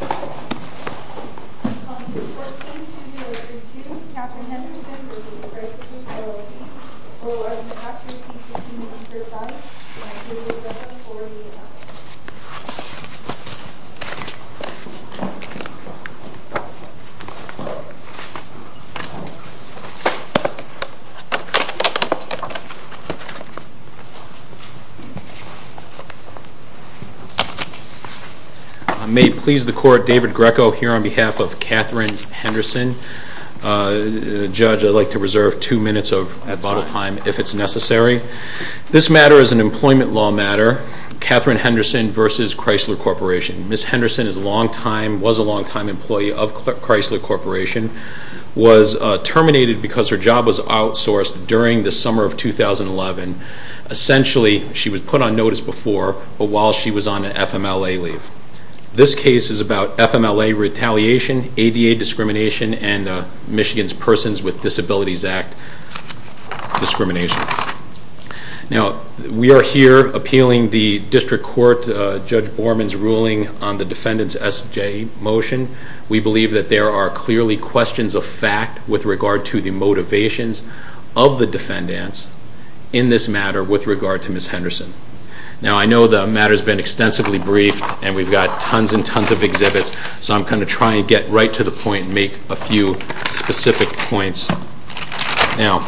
Or are you about to receive 15 minutes per side? Thank you. You're welcome. We'll be right back. Thank you. Mr. Court, David Greco here on behalf of Catherine Henderson. Judge, I'd like to reserve two minutes of bottle time if it's necessary. This matter is an employment law matter, Catherine Henderson v. Chrysler Corporation. Ms. Henderson was a longtime employee of Chrysler Corporation, was terminated because her job was outsourced during the summer of 2011. Essentially, she was put on notice before, but while she was on an FMLA leave. This case is about FMLA retaliation, ADA discrimination, and Michigan's Persons with Disabilities Act discrimination. Now, we are here appealing the District Court Judge Borman's ruling on the defendant's SJ motion. We believe that there are clearly questions of fact with regard to the motivations of the defendants in this matter with regard to Ms. Henderson. Now, I know the matter's been extensively briefed, and we've got tons and tons of exhibits, so I'm going to try and get right to the point and make a few specific points. Now,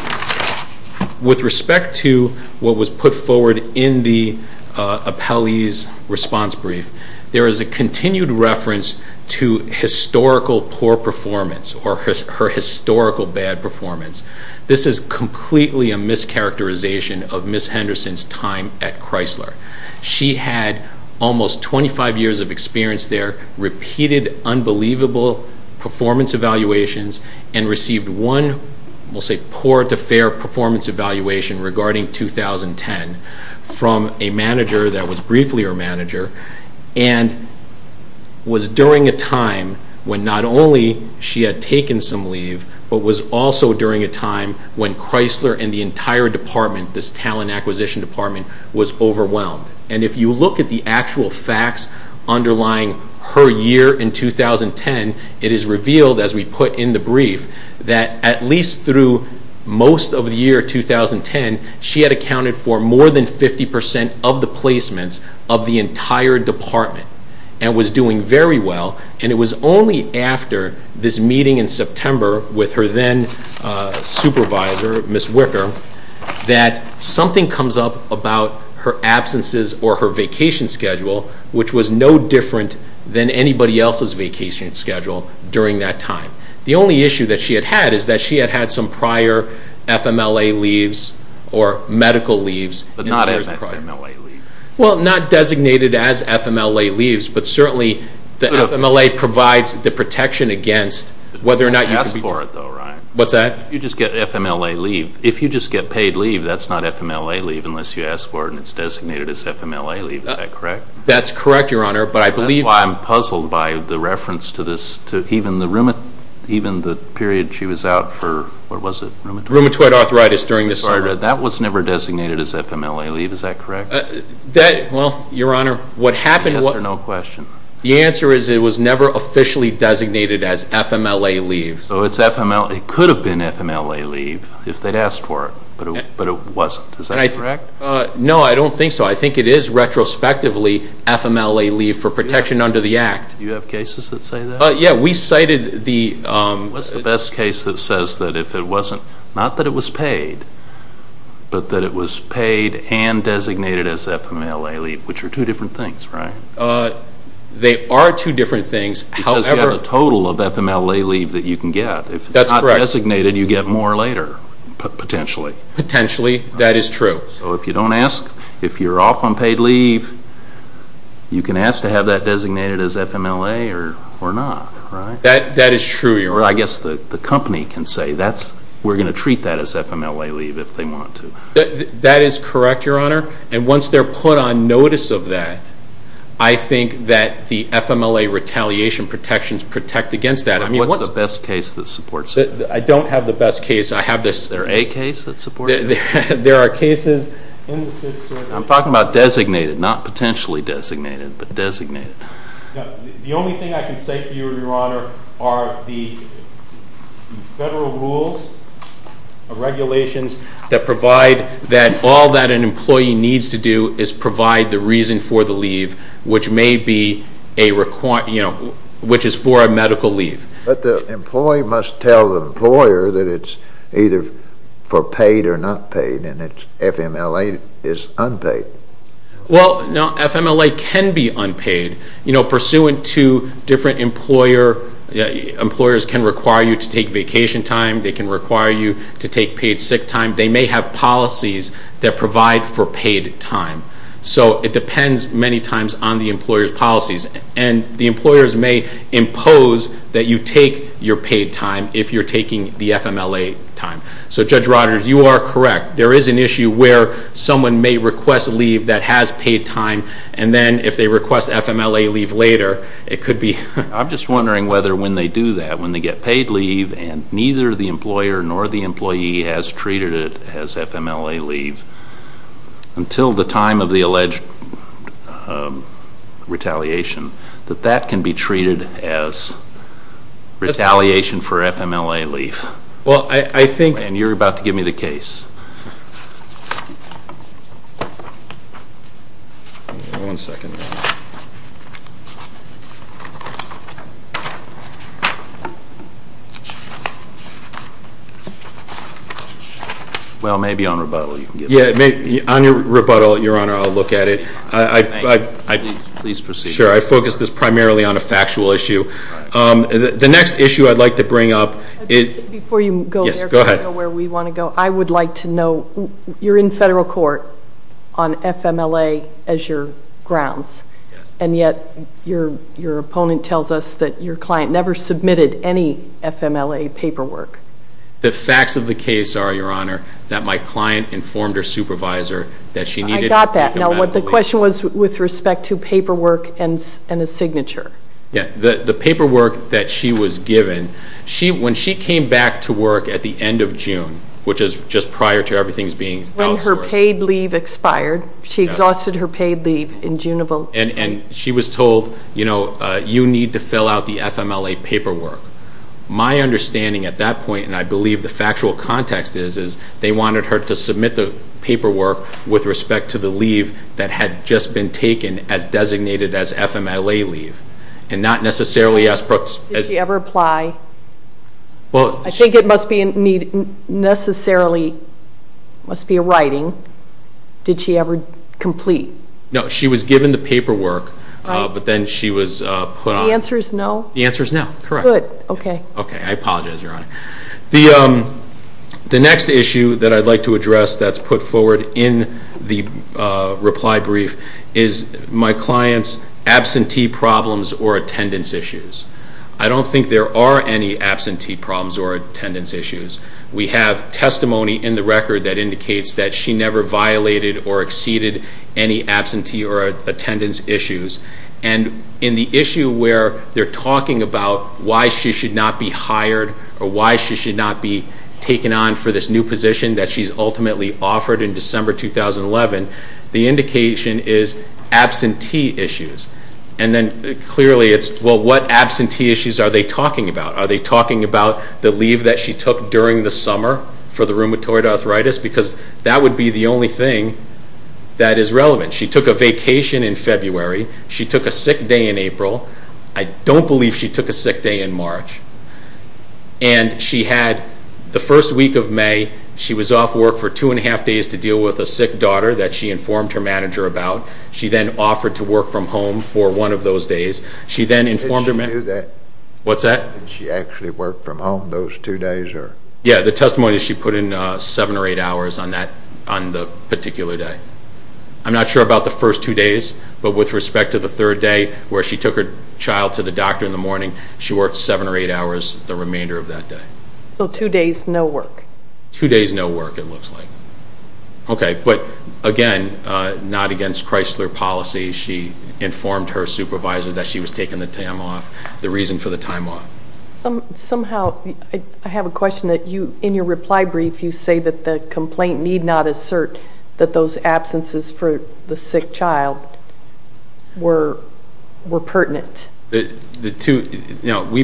with respect to what was put forward in the appellee's response brief, there is a continued reference to historical poor performance or her historical bad performance. This is completely a mischaracterization of Ms. Henderson's time at Chrysler. She had almost 25 years of experience there, repeated unbelievable performance evaluations, and received one, we'll say, poor to fair performance evaluation regarding 2010 from a manager that was briefly her manager, and was during a time when not only she had taken some leave, but was also during a time when Chrysler and the entire department, this talent acquisition department, was overwhelmed. And if you look at the actual facts underlying her year in 2010, it is revealed, as we put in the brief, that at least through most of the year 2010, she had accounted for more than 50% of the placements of the entire department and was doing very well. And it was only after this meeting in September with her then supervisor, Ms. Wicker, that something comes up about her absences or her vacation schedule, which was no different than anybody else's vacation schedule during that time. The only issue that she had had is that she had had some prior FMLA leaves or medical leaves. But not as FMLA leave. Well, not designated as FMLA leaves, but certainly the FMLA provides the protection against whether or not you can be What's that? If you just get FMLA leave, if you just get paid leave, that's not FMLA leave unless you ask for it and it's designated as FMLA leave, is that correct? That's correct, Your Honor, but I believe That's why I'm puzzled by the reference to this, to even the period she was out for, what was it, rheumatoid? Rheumatoid arthritis during this summer. That, well, Your Honor, what happened Answer no question. The answer is it was never officially designated as FMLA leave. So it's FMLA, it could have been FMLA leave if they'd asked for it, but it wasn't. Is that correct? No, I don't think so. I think it is retrospectively FMLA leave for protection under the Act. Do you have cases that say that? Yeah, we cited the What's the best case that says that if it wasn't, not that it was paid, but that it was paid and designated as FMLA leave, which are two different things, right? They are two different things, however Because you have a total of FMLA leave that you can get. That's correct. If it's not designated, you get more later, potentially. Potentially, that is true. So if you don't ask, if you're off on paid leave, you can ask to have that designated as FMLA or not, right? That is true, Your Honor. Or I guess the company can say, we're going to treat that as FMLA leave if they want to. That is correct, Your Honor. And once they're put on notice of that, I think that the FMLA retaliation protections protect against that. I mean, what's the best case that supports it? I don't have the best case. I have this Is there a case that supports it? There are cases I'm talking about designated, not potentially designated, but designated. The only thing I can say to you, Your Honor, are the federal rules, regulations, that provide that all that an employee needs to do is provide the reason for the leave, which may be, you know, which is for a medical leave. But the employee must tell the employer that it's either for paid or not paid, and FMLA is unpaid. Well, no, FMLA can be unpaid. You know, pursuant to different employer, employers can require you to take vacation time. They can require you to take paid sick time. They may have policies that provide for paid time. So it depends many times on the employer's policies, and the employers may impose that you take your paid time if you're taking the FMLA time. So, Judge Rodgers, you are correct. There is an issue where someone may request leave that has paid time, and then if they request FMLA leave later, it could be I'm just wondering whether when they do that, when they get paid leave and neither the employer nor the employee has treated it as FMLA leave, until the time of the alleged retaliation, that that can be treated as retaliation for FMLA leave. Well, I think And you're about to give me the case. One second. Well, maybe on rebuttal you can give me the case. Yeah, on your rebuttal, Your Honor, I'll look at it. Thank you. Please proceed. Sure. I focused this primarily on a factual issue. The next issue I'd like to bring up Before you go where we want to go, I would like to know, you're in federal court on FMLA as your grounds. And yet your opponent tells us that your client never submitted any FMLA paperwork. The facts of the case are, Your Honor, that my client informed her supervisor that she needed I got that. Now, the question was with respect to paperwork and a signature. The paperwork that she was given, when she came back to work at the end of June, which is just prior to everything being outsourced. When her paid leave expired. She exhausted her paid leave in June of old. And she was told, you know, you need to fill out the FMLA paperwork. My understanding at that point, and I believe the factual context is, is they wanted her to submit the paperwork with respect to the leave that had just been taken as designated as FMLA leave. And not necessarily as Brooke's. Did she ever apply? I think it must be necessarily, must be a writing. Did she ever complete? No. She was given the paperwork, but then she was put on. The answer is no? The answer is no. Correct. Good. Okay. Okay. I apologize, Your Honor. The next issue that I'd like to address that's put forward in the reply brief is my client's absentee problems or attendance issues. I don't think there are any absentee problems or attendance issues. We have testimony in the record that indicates that she never violated or exceeded any absentee or attendance issues. And in the issue where they're talking about why she should not be hired or why she should not be taken on for this new position that she's ultimately offered in December 2011, the indication is absentee issues. And then clearly it's, well, what absentee issues are they talking about? Are they talking about the leave that she took during the summer for the rheumatoid arthritis? Because that would be the only thing that is relevant. She took a vacation in February. She took a sick day in April. I don't believe she took a sick day in March. And she had the first week of May, she was off work for two and a half days to deal with a sick daughter that she informed her manager about. She then offered to work from home for one of those days. She then informed her manager. Did she do that? What's that? Did she actually work from home those two days? Yeah, the testimony is she put in seven or eight hours on the particular day. I'm not sure about the first two days, but with respect to the third day where she took her child to the doctor in the morning, she worked seven or eight hours the remainder of that day. So two days, no work. Two days, no work it looks like. Okay, but again, not against Chrysler policy. She informed her supervisor that she was taking the time off, the reason for the time off. Somehow, I have a question that you, in your reply brief, you say that the complaint need not assert that those absences for the sick child were pertinent. We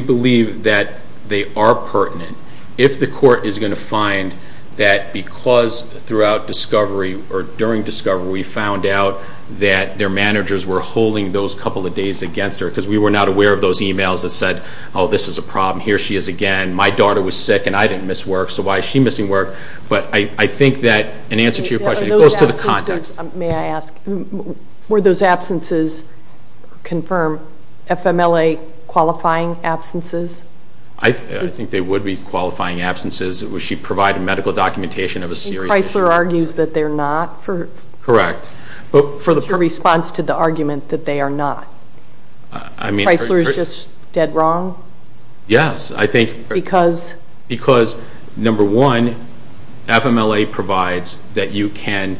believe that they are pertinent. If the court is going to find that because throughout discovery or during discovery, we found out that their managers were holding those couple of days against her because we were not aware of those emails that said, oh, this is a problem, here she is again, my daughter was sick and I didn't miss work, so why is she missing work? But I think that in answer to your question, it goes to the context. May I ask, were those absences, confirm, FMLA qualifying absences? I think they would be qualifying absences. She provided medical documentation of a serious issue. And Chrysler argues that they're not? Correct. What's your response to the argument that they are not? I mean, Chrysler is just dead wrong? Yes, I think. Because? Because, number one, FMLA provides that you can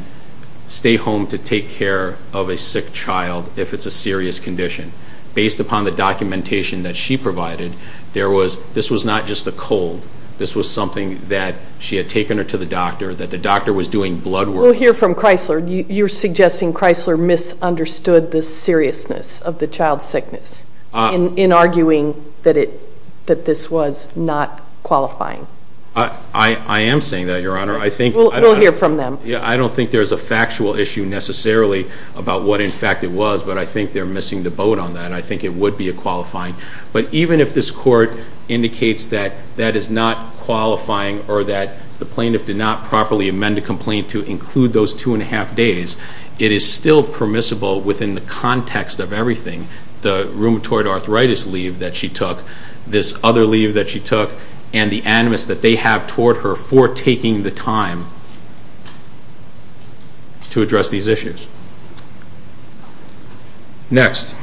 stay home to take care of a sick child if it's a serious condition. Based upon the documentation that she provided, this was not just a cold. This was something that she had taken her to the doctor, that the doctor was doing blood work. We'll hear from Chrysler. You're suggesting Chrysler misunderstood the seriousness of the child's sickness in arguing that this was not qualifying? I am saying that, Your Honor. We'll hear from them. I don't think there's a factual issue necessarily about what, in fact, it was, but I think they're missing the boat on that. I think it would be a qualifying. But even if this court indicates that that is not qualifying or that the plaintiff did not properly amend the complaint to include those 2 1⁄2 days, it is still permissible within the context of everything. The rheumatoid arthritis leave that she took, this other leave that she took, and the animus that they have toward her for taking the time to address these issues. Next.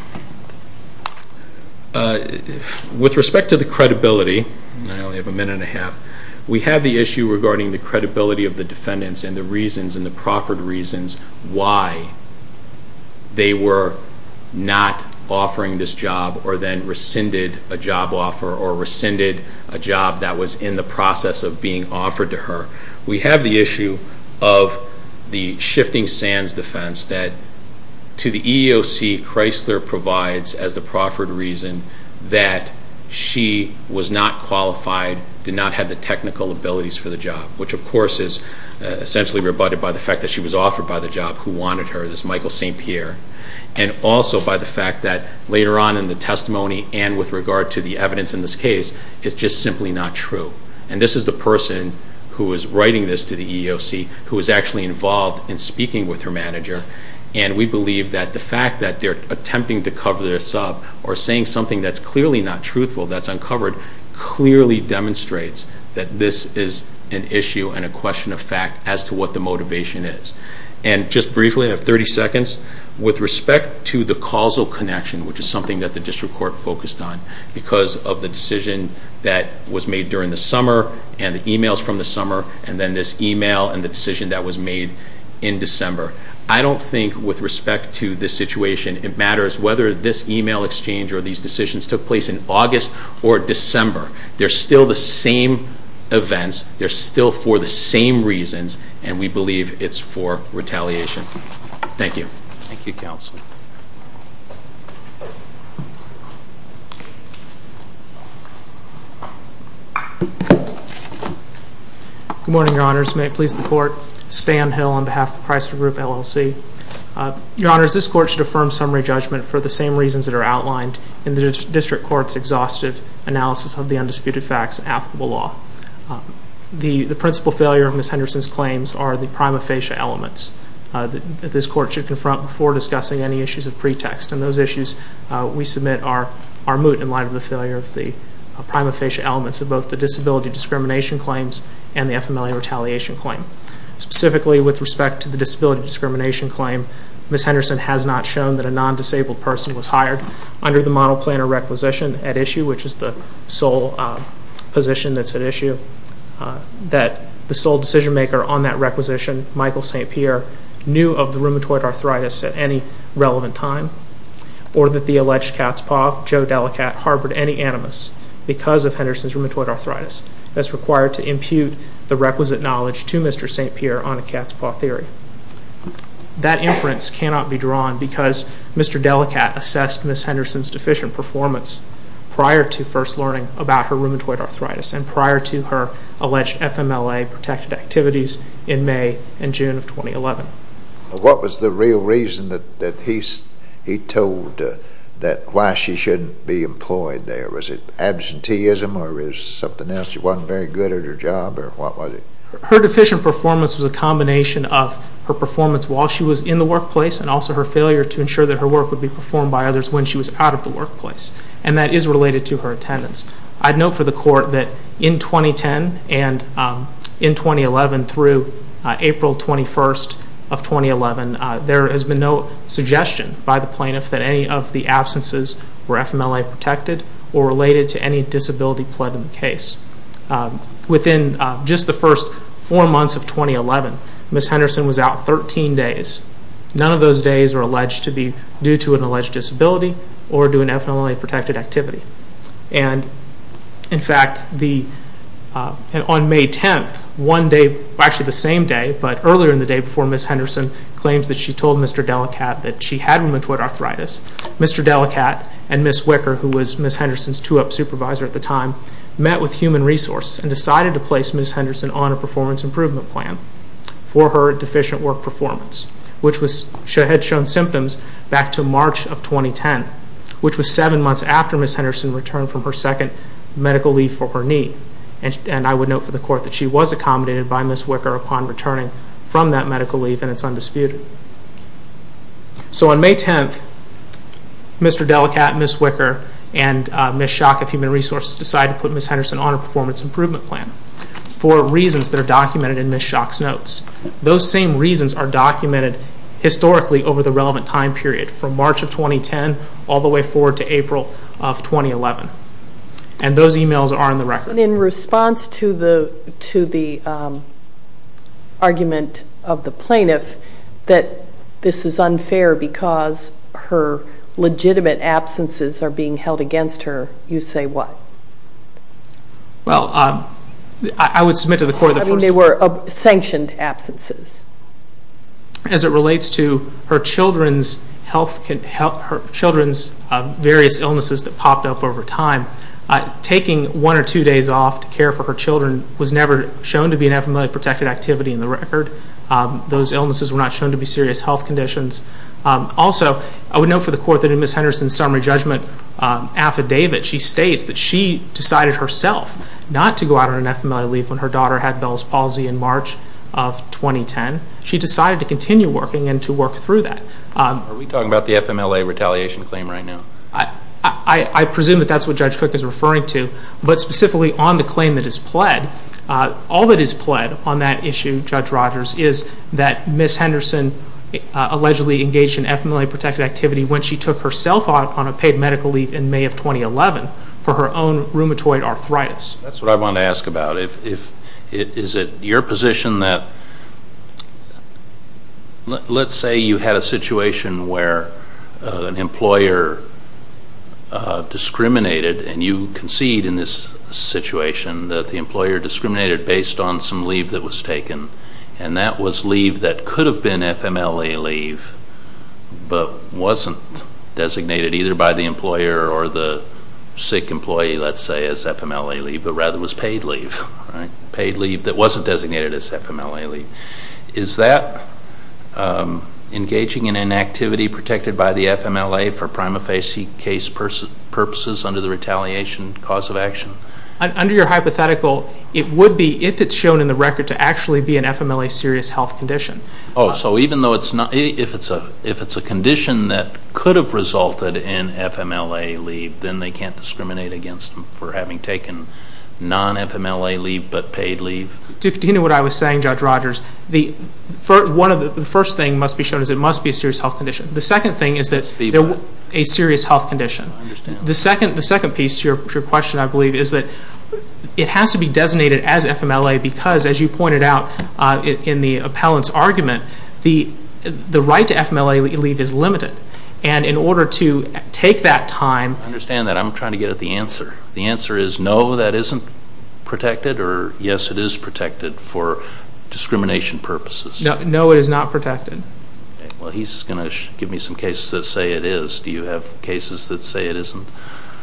With respect to the credibility, I only have a minute and a half, we have the issue regarding the credibility of the defendants and the reasons, and the proffered reasons, why they were not offering this job or then rescinded a job offer or rescinded a job that was in the process of being offered to her. We have the issue of the shifting sands defense that, to the EEOC, Chrysler provides as the proffered reason that she was not qualified, did not have the technical abilities for the job, which of course is essentially rebutted by the fact that she was offered by the job who wanted her, this Michael St. Pierre, and also by the fact that later on in the testimony and with regard to the evidence in this case, it's just simply not true. And this is the person who is writing this to the EEOC, who is actually involved in speaking with her manager, and we believe that the fact that they're attempting to cover this up or saying something that's clearly not truthful, that's uncovered, clearly demonstrates that this is an issue and a question of fact as to what the motivation is. And just briefly, I have 30 seconds, with respect to the causal connection, which is something that the district court focused on, because of the decision that was made during the summer and the emails from the summer and then this email and the decision that was made in December, I don't think with respect to this situation it matters whether this email exchange or these decisions took place in August or December. They're still the same events, they're still for the same reasons, and we believe it's for retaliation. Thank you. Thank you, Counsel. Good morning, Your Honors. May it please the Court, Stan Hill on behalf of the Priceford Group, LLC. Your Honors, this Court should affirm summary judgment for the same reasons that are outlined in the district court's exhaustive analysis of the undisputed facts and applicable law. The principal failure of Ms. Henderson's claims are the prima facie elements that this Court should confront before discussing any issues of pretext, and those issues we submit are moot in light of the failure of the prima facie elements of both the disability discrimination claims and the FMLA retaliation claim. Specifically, with respect to the disability discrimination claim, Ms. Henderson has not shown that a non-disabled person was hired under the model plan or requisition at issue, which is the sole position that's at issue, that the sole decision maker on that requisition, Michael St. Pierre, knew of the rheumatoid arthritis at any relevant time, or that the alleged cat's paw, Joe Delacat, harbored any animus because of Henderson's rheumatoid arthritis that's required to impute the requisite knowledge to Mr. St. Pierre on a cat's paw theory. That inference cannot be drawn because Mr. Delacat assessed Ms. Henderson's deficient performance prior to first learning about her rheumatoid arthritis and prior to her alleged FMLA-protected activities in May and June of 2011. What was the real reason that he told that why she shouldn't be employed there? Was it absenteeism or was it something else? She wasn't very good at her job or what was it? Her deficient performance was a combination of her performance while she was in the workplace and also her failure to ensure that her work would be performed by others when she was out of the workplace, and that is related to her attendance. I'd note for the Court that in 2010 and in 2011 through April 21st of 2011, there has been no suggestion by the plaintiff that any of the absences were FMLA-protected or related to any disability plead in the case. Within just the first four months of 2011, Ms. Henderson was out 13 days. None of those days are alleged to be due to an alleged disability or due to an FMLA-protected activity. In fact, on May 10th, one day, actually the same day, but earlier in the day before Ms. Henderson claims that she told Mr. Delacat that she had rheumatoid arthritis, Mr. Delacat and Ms. Wicker, who was Ms. Henderson's 2-up supervisor at the time, met with Human Resources and decided to place Ms. Henderson on a performance improvement plan for her deficient work performance, which had shown symptoms back to March of 2010, which was seven months after Ms. Henderson returned from her second medical leave for her knee. And I would note for the Court that she was accommodated by Ms. Wicker upon returning from that medical leave, and it's undisputed. So on May 10th, Mr. Delacat, Ms. Wicker, and Ms. Schock of Human Resources decided to put Ms. Henderson on a performance improvement plan for reasons that are documented in Ms. Schock's notes. Those same reasons are documented historically over the relevant time period from March of 2010 all the way forward to April of 2011, and those emails are on the record. And in response to the argument of the plaintiff that this is unfair because her legitimate absences are being held against her, you say what? Well, I would submit to the Court that first... I mean, they were sanctioned absences. As it relates to her children's various illnesses that popped up over time, taking one or two days off to care for her children was never shown to be an FMLA-protected activity in the record. Those illnesses were not shown to be serious health conditions. Also, I would note for the Court that in Ms. Henderson's summary judgment affidavit, she states that she decided herself not to go out on an FMLA leave when her daughter had Bell's palsy in March of 2010. She decided to continue working and to work through that. Are we talking about the FMLA retaliation claim right now? I presume that that's what Judge Cook is referring to, but specifically on the claim that is pled. All that is pled on that issue, Judge Rogers, is that Ms. Henderson allegedly engaged in FMLA-protected activity when she took herself out on a paid medical leave in May of 2011 for her own rheumatoid arthritis. That's what I wanted to ask about. Is it your position that let's say you had a situation where an employer discriminated, and you concede in this situation that the employer discriminated based on some leave that was taken, and that was leave that could have been FMLA leave but wasn't designated either by the employer or the sick employee, let's say, as FMLA leave but rather was paid leave, paid leave that wasn't designated as FMLA leave. Is that engaging in inactivity protected by the FMLA for prima facie case purposes under the retaliation cause of action? Under your hypothetical, it would be if it's shown in the record to actually be an FMLA serious health condition. Oh, so even though it's not, if it's a condition that could have resulted in FMLA leave, then they can't discriminate against them for having taken non-FMLA leave but paid leave? Do you know what I was saying, Judge Rogers? The first thing must be shown is it must be a serious health condition. The second thing is that it's a serious health condition. I understand. The second piece to your question, I believe, is that it has to be designated as FMLA because, as you pointed out in the appellant's argument, the right to FMLA leave is limited. And in order to take that time... I understand that. I'm trying to get at the answer. The answer is no, that isn't protected, or yes, it is protected for discrimination purposes? No, it is not protected. Well, he's going to give me some cases that say it is. Do you have cases that say it isn't?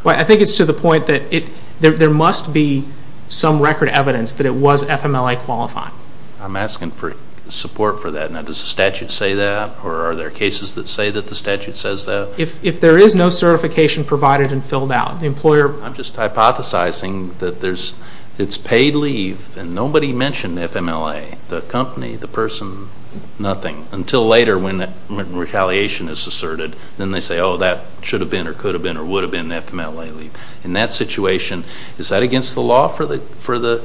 I think it's to the point that there must be some record evidence that it was FMLA qualified. I'm asking for support for that. Now, does the statute say that? Or are there cases that say that the statute says that? If there is no certification provided and filled out, the employer... I'm just hypothesizing that it's paid leave and nobody mentioned FMLA, the company, the person, nothing, until later when retaliation is asserted. Then they say, oh, that should have been or could have been or would have been FMLA leave. In that situation, is that against the law for the...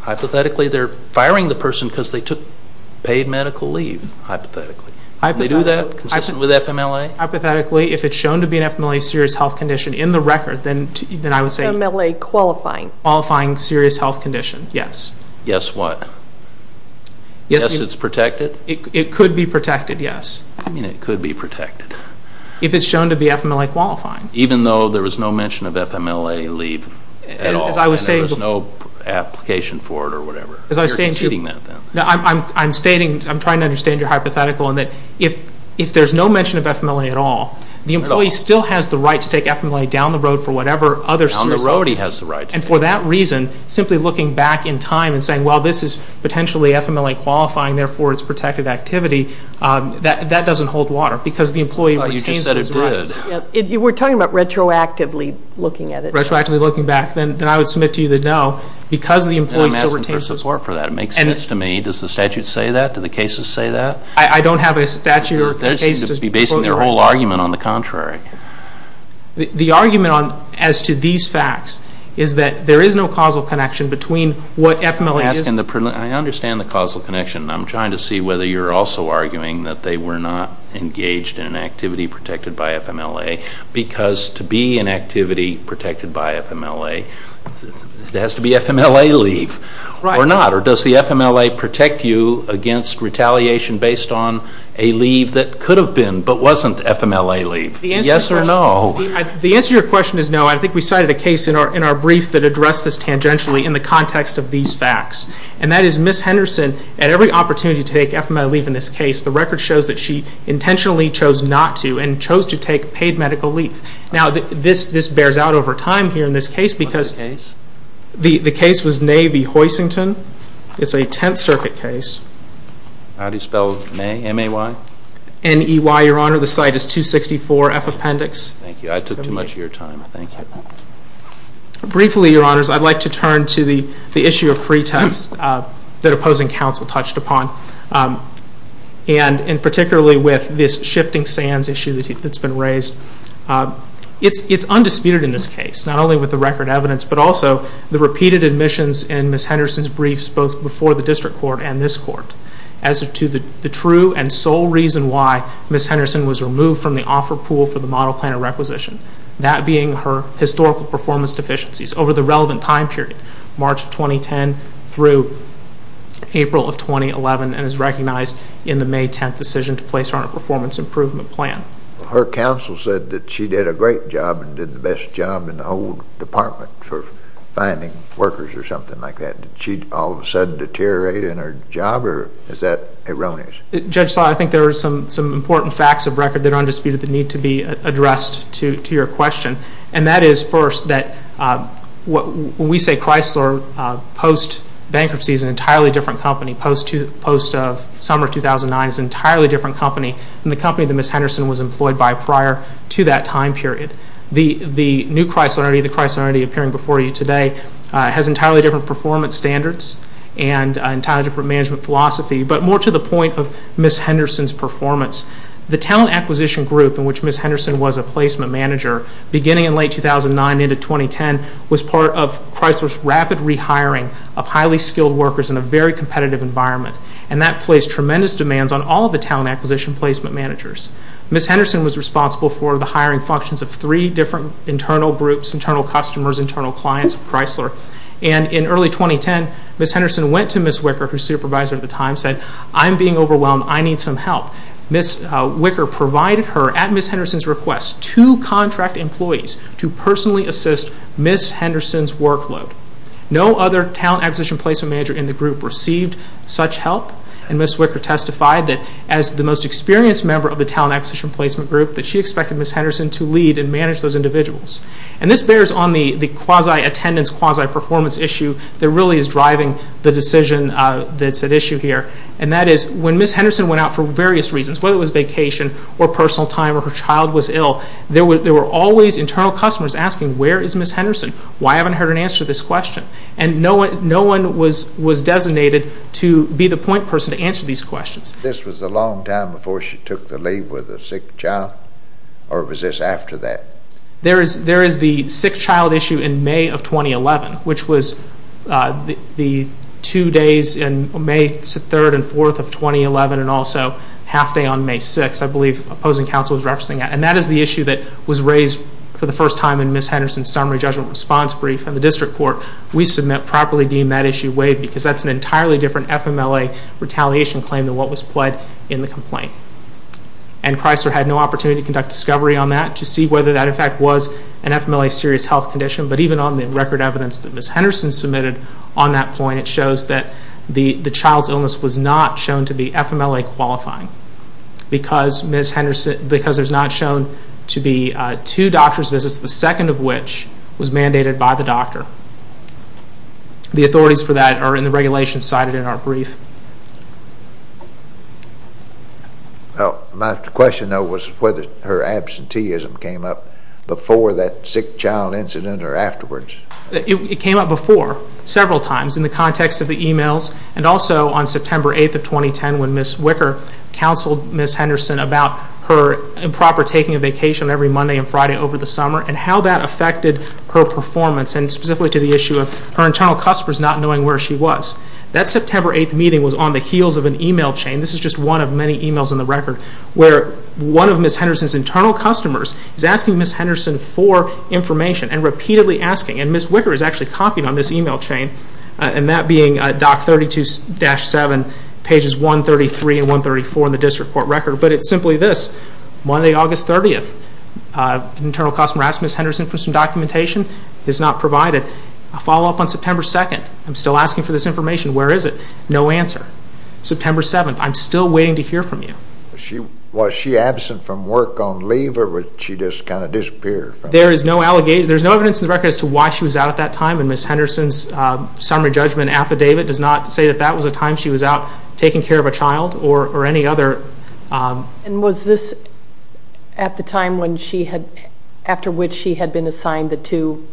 Hypothetically, they're firing the person because they took paid medical leave, hypothetically. Can they do that consistent with FMLA? Hypothetically, if it's shown to be an FMLA serious health condition in the record, then I would say... FMLA qualifying. Qualifying serious health condition, yes. Yes, what? Yes, it's protected? It could be protected, yes. You mean it could be protected? If it's shown to be FMLA qualifying. Even though there was no mention of FMLA leave at all? As I was stating... And there was no application for it or whatever? As I was stating... You're conceding that then? I'm stating, I'm trying to understand your hypothetical in that if there's no mention of FMLA at all, the employee still has the right to take FMLA down the road for whatever other serious health... Down the road he has the right to. And for that reason, simply looking back in time and saying, well, this is potentially FMLA qualifying, therefore it's protected activity, that doesn't hold water because the employee retains those rights. You just said it did. We're talking about retroactively looking at it. Retroactively looking back, then I would submit to you that no, because the employee still retains those... I'm asking for support for that. It makes sense to me. Does the statute say that? Do the cases say that? I don't have a statute or a case to... They seem to be basing their whole argument on the contrary. The argument as to these facts is that there is no causal connection between what FMLA is... I understand the causal connection, and I'm trying to see whether you're also arguing that they were not engaged in an activity protected by FMLA because to be an activity protected by FMLA, there has to be FMLA leave or not. Or does the FMLA protect you against retaliation based on a leave that could have been but wasn't FMLA leave? Yes or no? The answer to your question is no. I think we cited a case in our brief that addressed this tangentially in the context of these facts. And that is Ms. Henderson, at every opportunity to take FMLA leave in this case, the record shows that she intentionally chose not to and chose to take paid medical leave. Now, this bears out over time here in this case because... What's the case? The case was Nay v. Hoisington. It's a Tenth Circuit case. How do you spell Nay? M-A-Y? N-E-Y, Your Honor. The site is 264 F Appendix. Thank you. I took too much of your time. Thank you. Briefly, Your Honors, I'd like to turn to the issue of pretext that opposing counsel touched upon. And particularly with this shifting sands issue that's been raised. It's undisputed in this case, not only with the record evidence, but also the repeated admissions in Ms. Henderson's briefs both before the district court and this court as to the true and sole reason why Ms. Henderson was removed from the offer pool for the model plan of requisition. That being her historical performance deficiencies over the relevant time period, March of 2010 through April of 2011, and is recognized in the May 10th decision to place her on a performance improvement plan. Her counsel said that she did a great job and did the best job in the whole department for finding workers or something like that. Did she all of a sudden deteriorate in her job, or is that erroneous? Judge Sawyer, I think there are some important facts of record that are undisputed that need to be addressed to your question. And that is, first, that when we say Chrysler, post-bankruptcy is an entirely different company. Post-summer 2009 is an entirely different company than the company that Ms. Henderson was employed by prior to that time period. The new Chrysler, the Chrysler already appearing before you today, has entirely different performance standards and entirely different management philosophy, but more to the point of Ms. Henderson's performance. The talent acquisition group in which Ms. Henderson was a placement manager beginning in late 2009 into 2010 was part of Chrysler's rapid rehiring of highly skilled workers in a very competitive environment. And that placed tremendous demands on all the talent acquisition placement managers. Ms. Henderson was responsible for the hiring functions of three different internal groups, internal customers, internal clients of Chrysler. And in early 2010, Ms. Henderson went to Ms. Wicker, who was supervisor at the time, and said, I'm being overwhelmed, I need some help. Ms. Wicker provided her, at Ms. Henderson's request, two contract employees to personally assist Ms. Henderson's workload. No other talent acquisition placement manager in the group received such help, and Ms. Wicker testified that as the most experienced member of the talent acquisition placement group, that she expected Ms. Henderson to lead and manage those individuals. And this bears on the quasi-attendance, quasi-performance issue that really is driving the decision that's at issue here. And that is, when Ms. Henderson went out for various reasons, whether it was vacation, or personal time, or her child was ill, there were always internal customers asking, where is Ms. Henderson? Why haven't I heard an answer to this question? And no one was designated to be the point person to answer these questions. This was a long time before she took the leave with a sick child? Or was this after that? There is the sick child issue in May of 2011, which was the two days in May 3rd and 4th of 2011, and also half day on May 6th, I believe, opposing counsel was referencing that. And that is the issue that was raised for the first time in Ms. Henderson's summary judgment response brief. And the district court, we submit, properly deem that issue waived because that's an entirely different FMLA retaliation claim than what was pled in the complaint. And Chrysler had no opportunity to conduct discovery on that to see whether that, in fact, was an FMLA serious health condition. But even on the record evidence that Ms. Henderson submitted on that point, it shows that the child's illness was not shown to be FMLA qualifying because there's not shown to be two doctor's visits, the second of which was mandated by the doctor. The authorities for that are in the regulations cited in our brief. My question, though, was whether her absenteeism came up before that sick child incident or afterwards. It came up before several times in the context of the e-mails and also on September 8th of 2010 when Ms. Wicker counseled Ms. Henderson about her improper taking a vacation every Monday and Friday over the summer and how that affected her performance and specifically to the issue of her internal customers not knowing where she was. That September 8th meeting was on the heels of an e-mail chain. This is just one of many e-mails in the record where one of Ms. Henderson's internal customers is asking Ms. Henderson for information and repeatedly asking, and Ms. Wicker is actually copying on this e-mail chain, and that being Doc 32-7, pages 133 and 134 in the district court record, but it's simply this, Monday, August 30th, an internal customer asked Ms. Henderson for some documentation. It's not provided. A follow-up on September 2nd. I'm still asking for this information. Where is it? No answer. September 7th, I'm still waiting to hear from you. Was she absent from work on leave, or did she just kind of disappear? There is no evidence in the record as to why she was out at that time, and Ms. Henderson's summary judgment affidavit does not say that that was a time she was out taking care of a child or any other. And was this at the time after which she had been assigned the two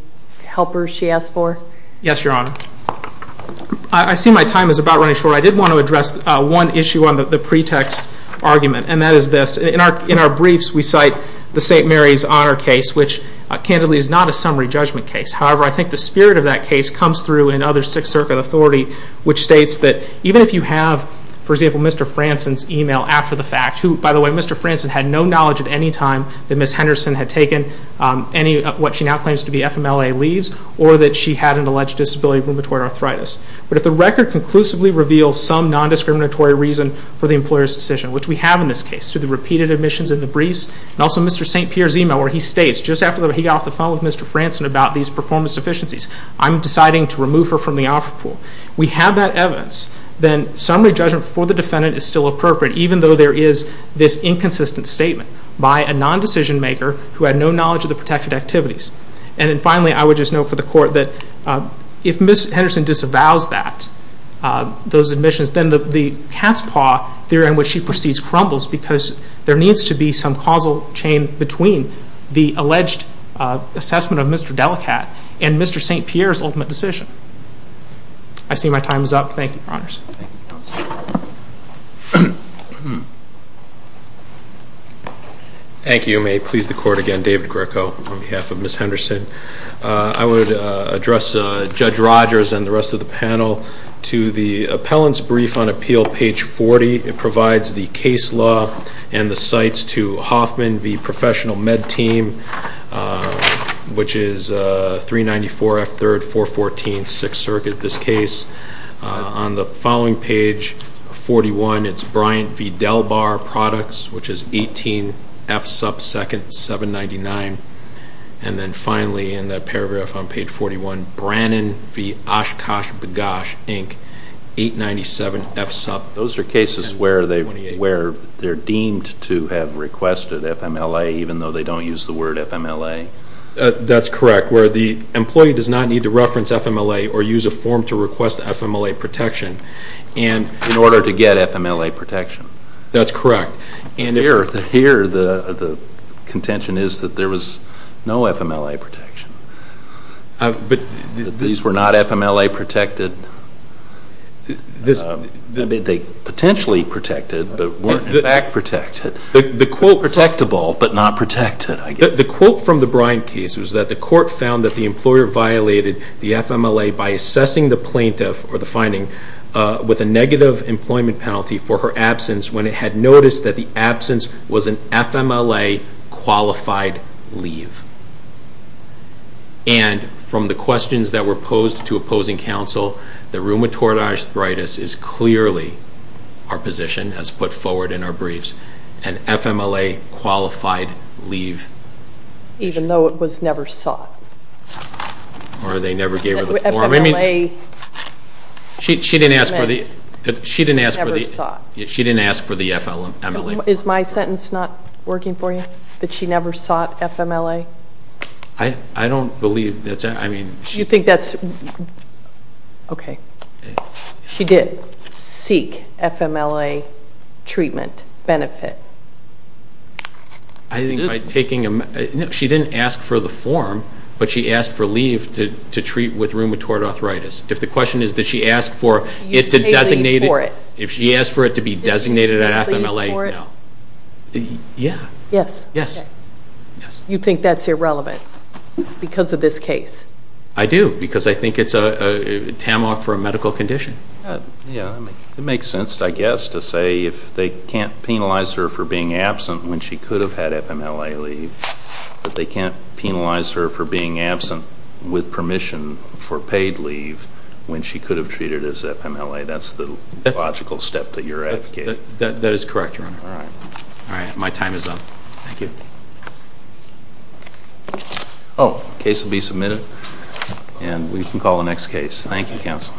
helpers she asked for? Yes, Your Honor. I see my time is about running short. However, I did want to address one issue on the pretext argument, and that is this. In our briefs, we cite the St. Mary's Honor case, which, candidly, is not a summary judgment case. However, I think the spirit of that case comes through in other Sixth Circuit authority, which states that even if you have, for example, Mr. Franson's e-mail after the fact, who, by the way, Mr. Franson had no knowledge at any time that Ms. Henderson had taken what she now claims to be FMLA leaves, or that she had an alleged disability of rheumatoid arthritis. But if the record conclusively reveals some nondiscriminatory reason for the employer's decision, which we have in this case through the repeated admissions in the briefs, and also Mr. St. Pierre's e-mail where he states, just after he got off the phone with Mr. Franson about these performance deficiencies, I'm deciding to remove her from the offer pool. We have that evidence, then summary judgment for the defendant is still appropriate, even though there is this inconsistent statement by a nondecision maker who had no knowledge of the protected activities. And then finally, I would just note for the Court that if Ms. Henderson disavows that, those admissions, then the cat's paw theory in which she proceeds crumbles because there needs to be some causal chain between the alleged assessment of Mr. Delacat and Mr. St. Pierre's ultimate decision. I see my time is up. Thank you, Your Honors. Thank you. May it please the Court again. David Greco on behalf of Ms. Henderson. I would address Judge Rogers and the rest of the panel to the Appellant's Brief on Appeal, page 40. It provides the case law and the sites to Hoffman v. Professional Med Team, which is 394 F. 3rd, 414 6th Circuit, this case. On the following page, 41, it's Bryant v. Delbar Products, which is 18 F. 2nd, 799. And then finally, in that paragraph on page 41, Brannon v. Oshkosh Bagosh, Inc., 897 F. Sup. Those are cases where they're deemed to have requested FMLA even though they don't use the word FMLA. That's correct, where the employee does not need to reference FMLA or use a form to request FMLA protection. In order to get FMLA protection. That's correct. Here the contention is that there was no FMLA protection. These were not FMLA protected? They potentially protected, but weren't in fact protected. Protectable, but not protected, I guess. The quote from the Bryant case was that the Court found that the employer violated the FMLA by assessing the plaintiff or the finding with a negative employment penalty for her absence when it had noticed that the absence was an FMLA-qualified leave. And from the questions that were posed to opposing counsel, that rheumatoid arthritis is clearly our position, as put forward in our briefs, an FMLA-qualified leave. Even though it was never sought. Or they never gave her the form. She didn't ask for the FMLA form. Is my sentence not working for you? That she never sought FMLA? I don't believe that's it. Okay. She did seek FMLA treatment benefit. She didn't ask for the form, but she asked for leave to treat with rheumatoid arthritis. If the question is did she ask for it to be designated at FMLA, no. Yes. You think that's irrelevant because of this case? I do, because I think it's a TAMOF for a medical condition. It makes sense, I guess, to say if they can't penalize her for being absent when she could have had FMLA leave, that they can't penalize her for being absent with permission for paid leave when she could have treated as FMLA. That's the logical step that you're advocating. That is correct, Your Honor. All right. My time is up. Thank you. The case will be submitted, and we can call the next case. Thank you, counsel.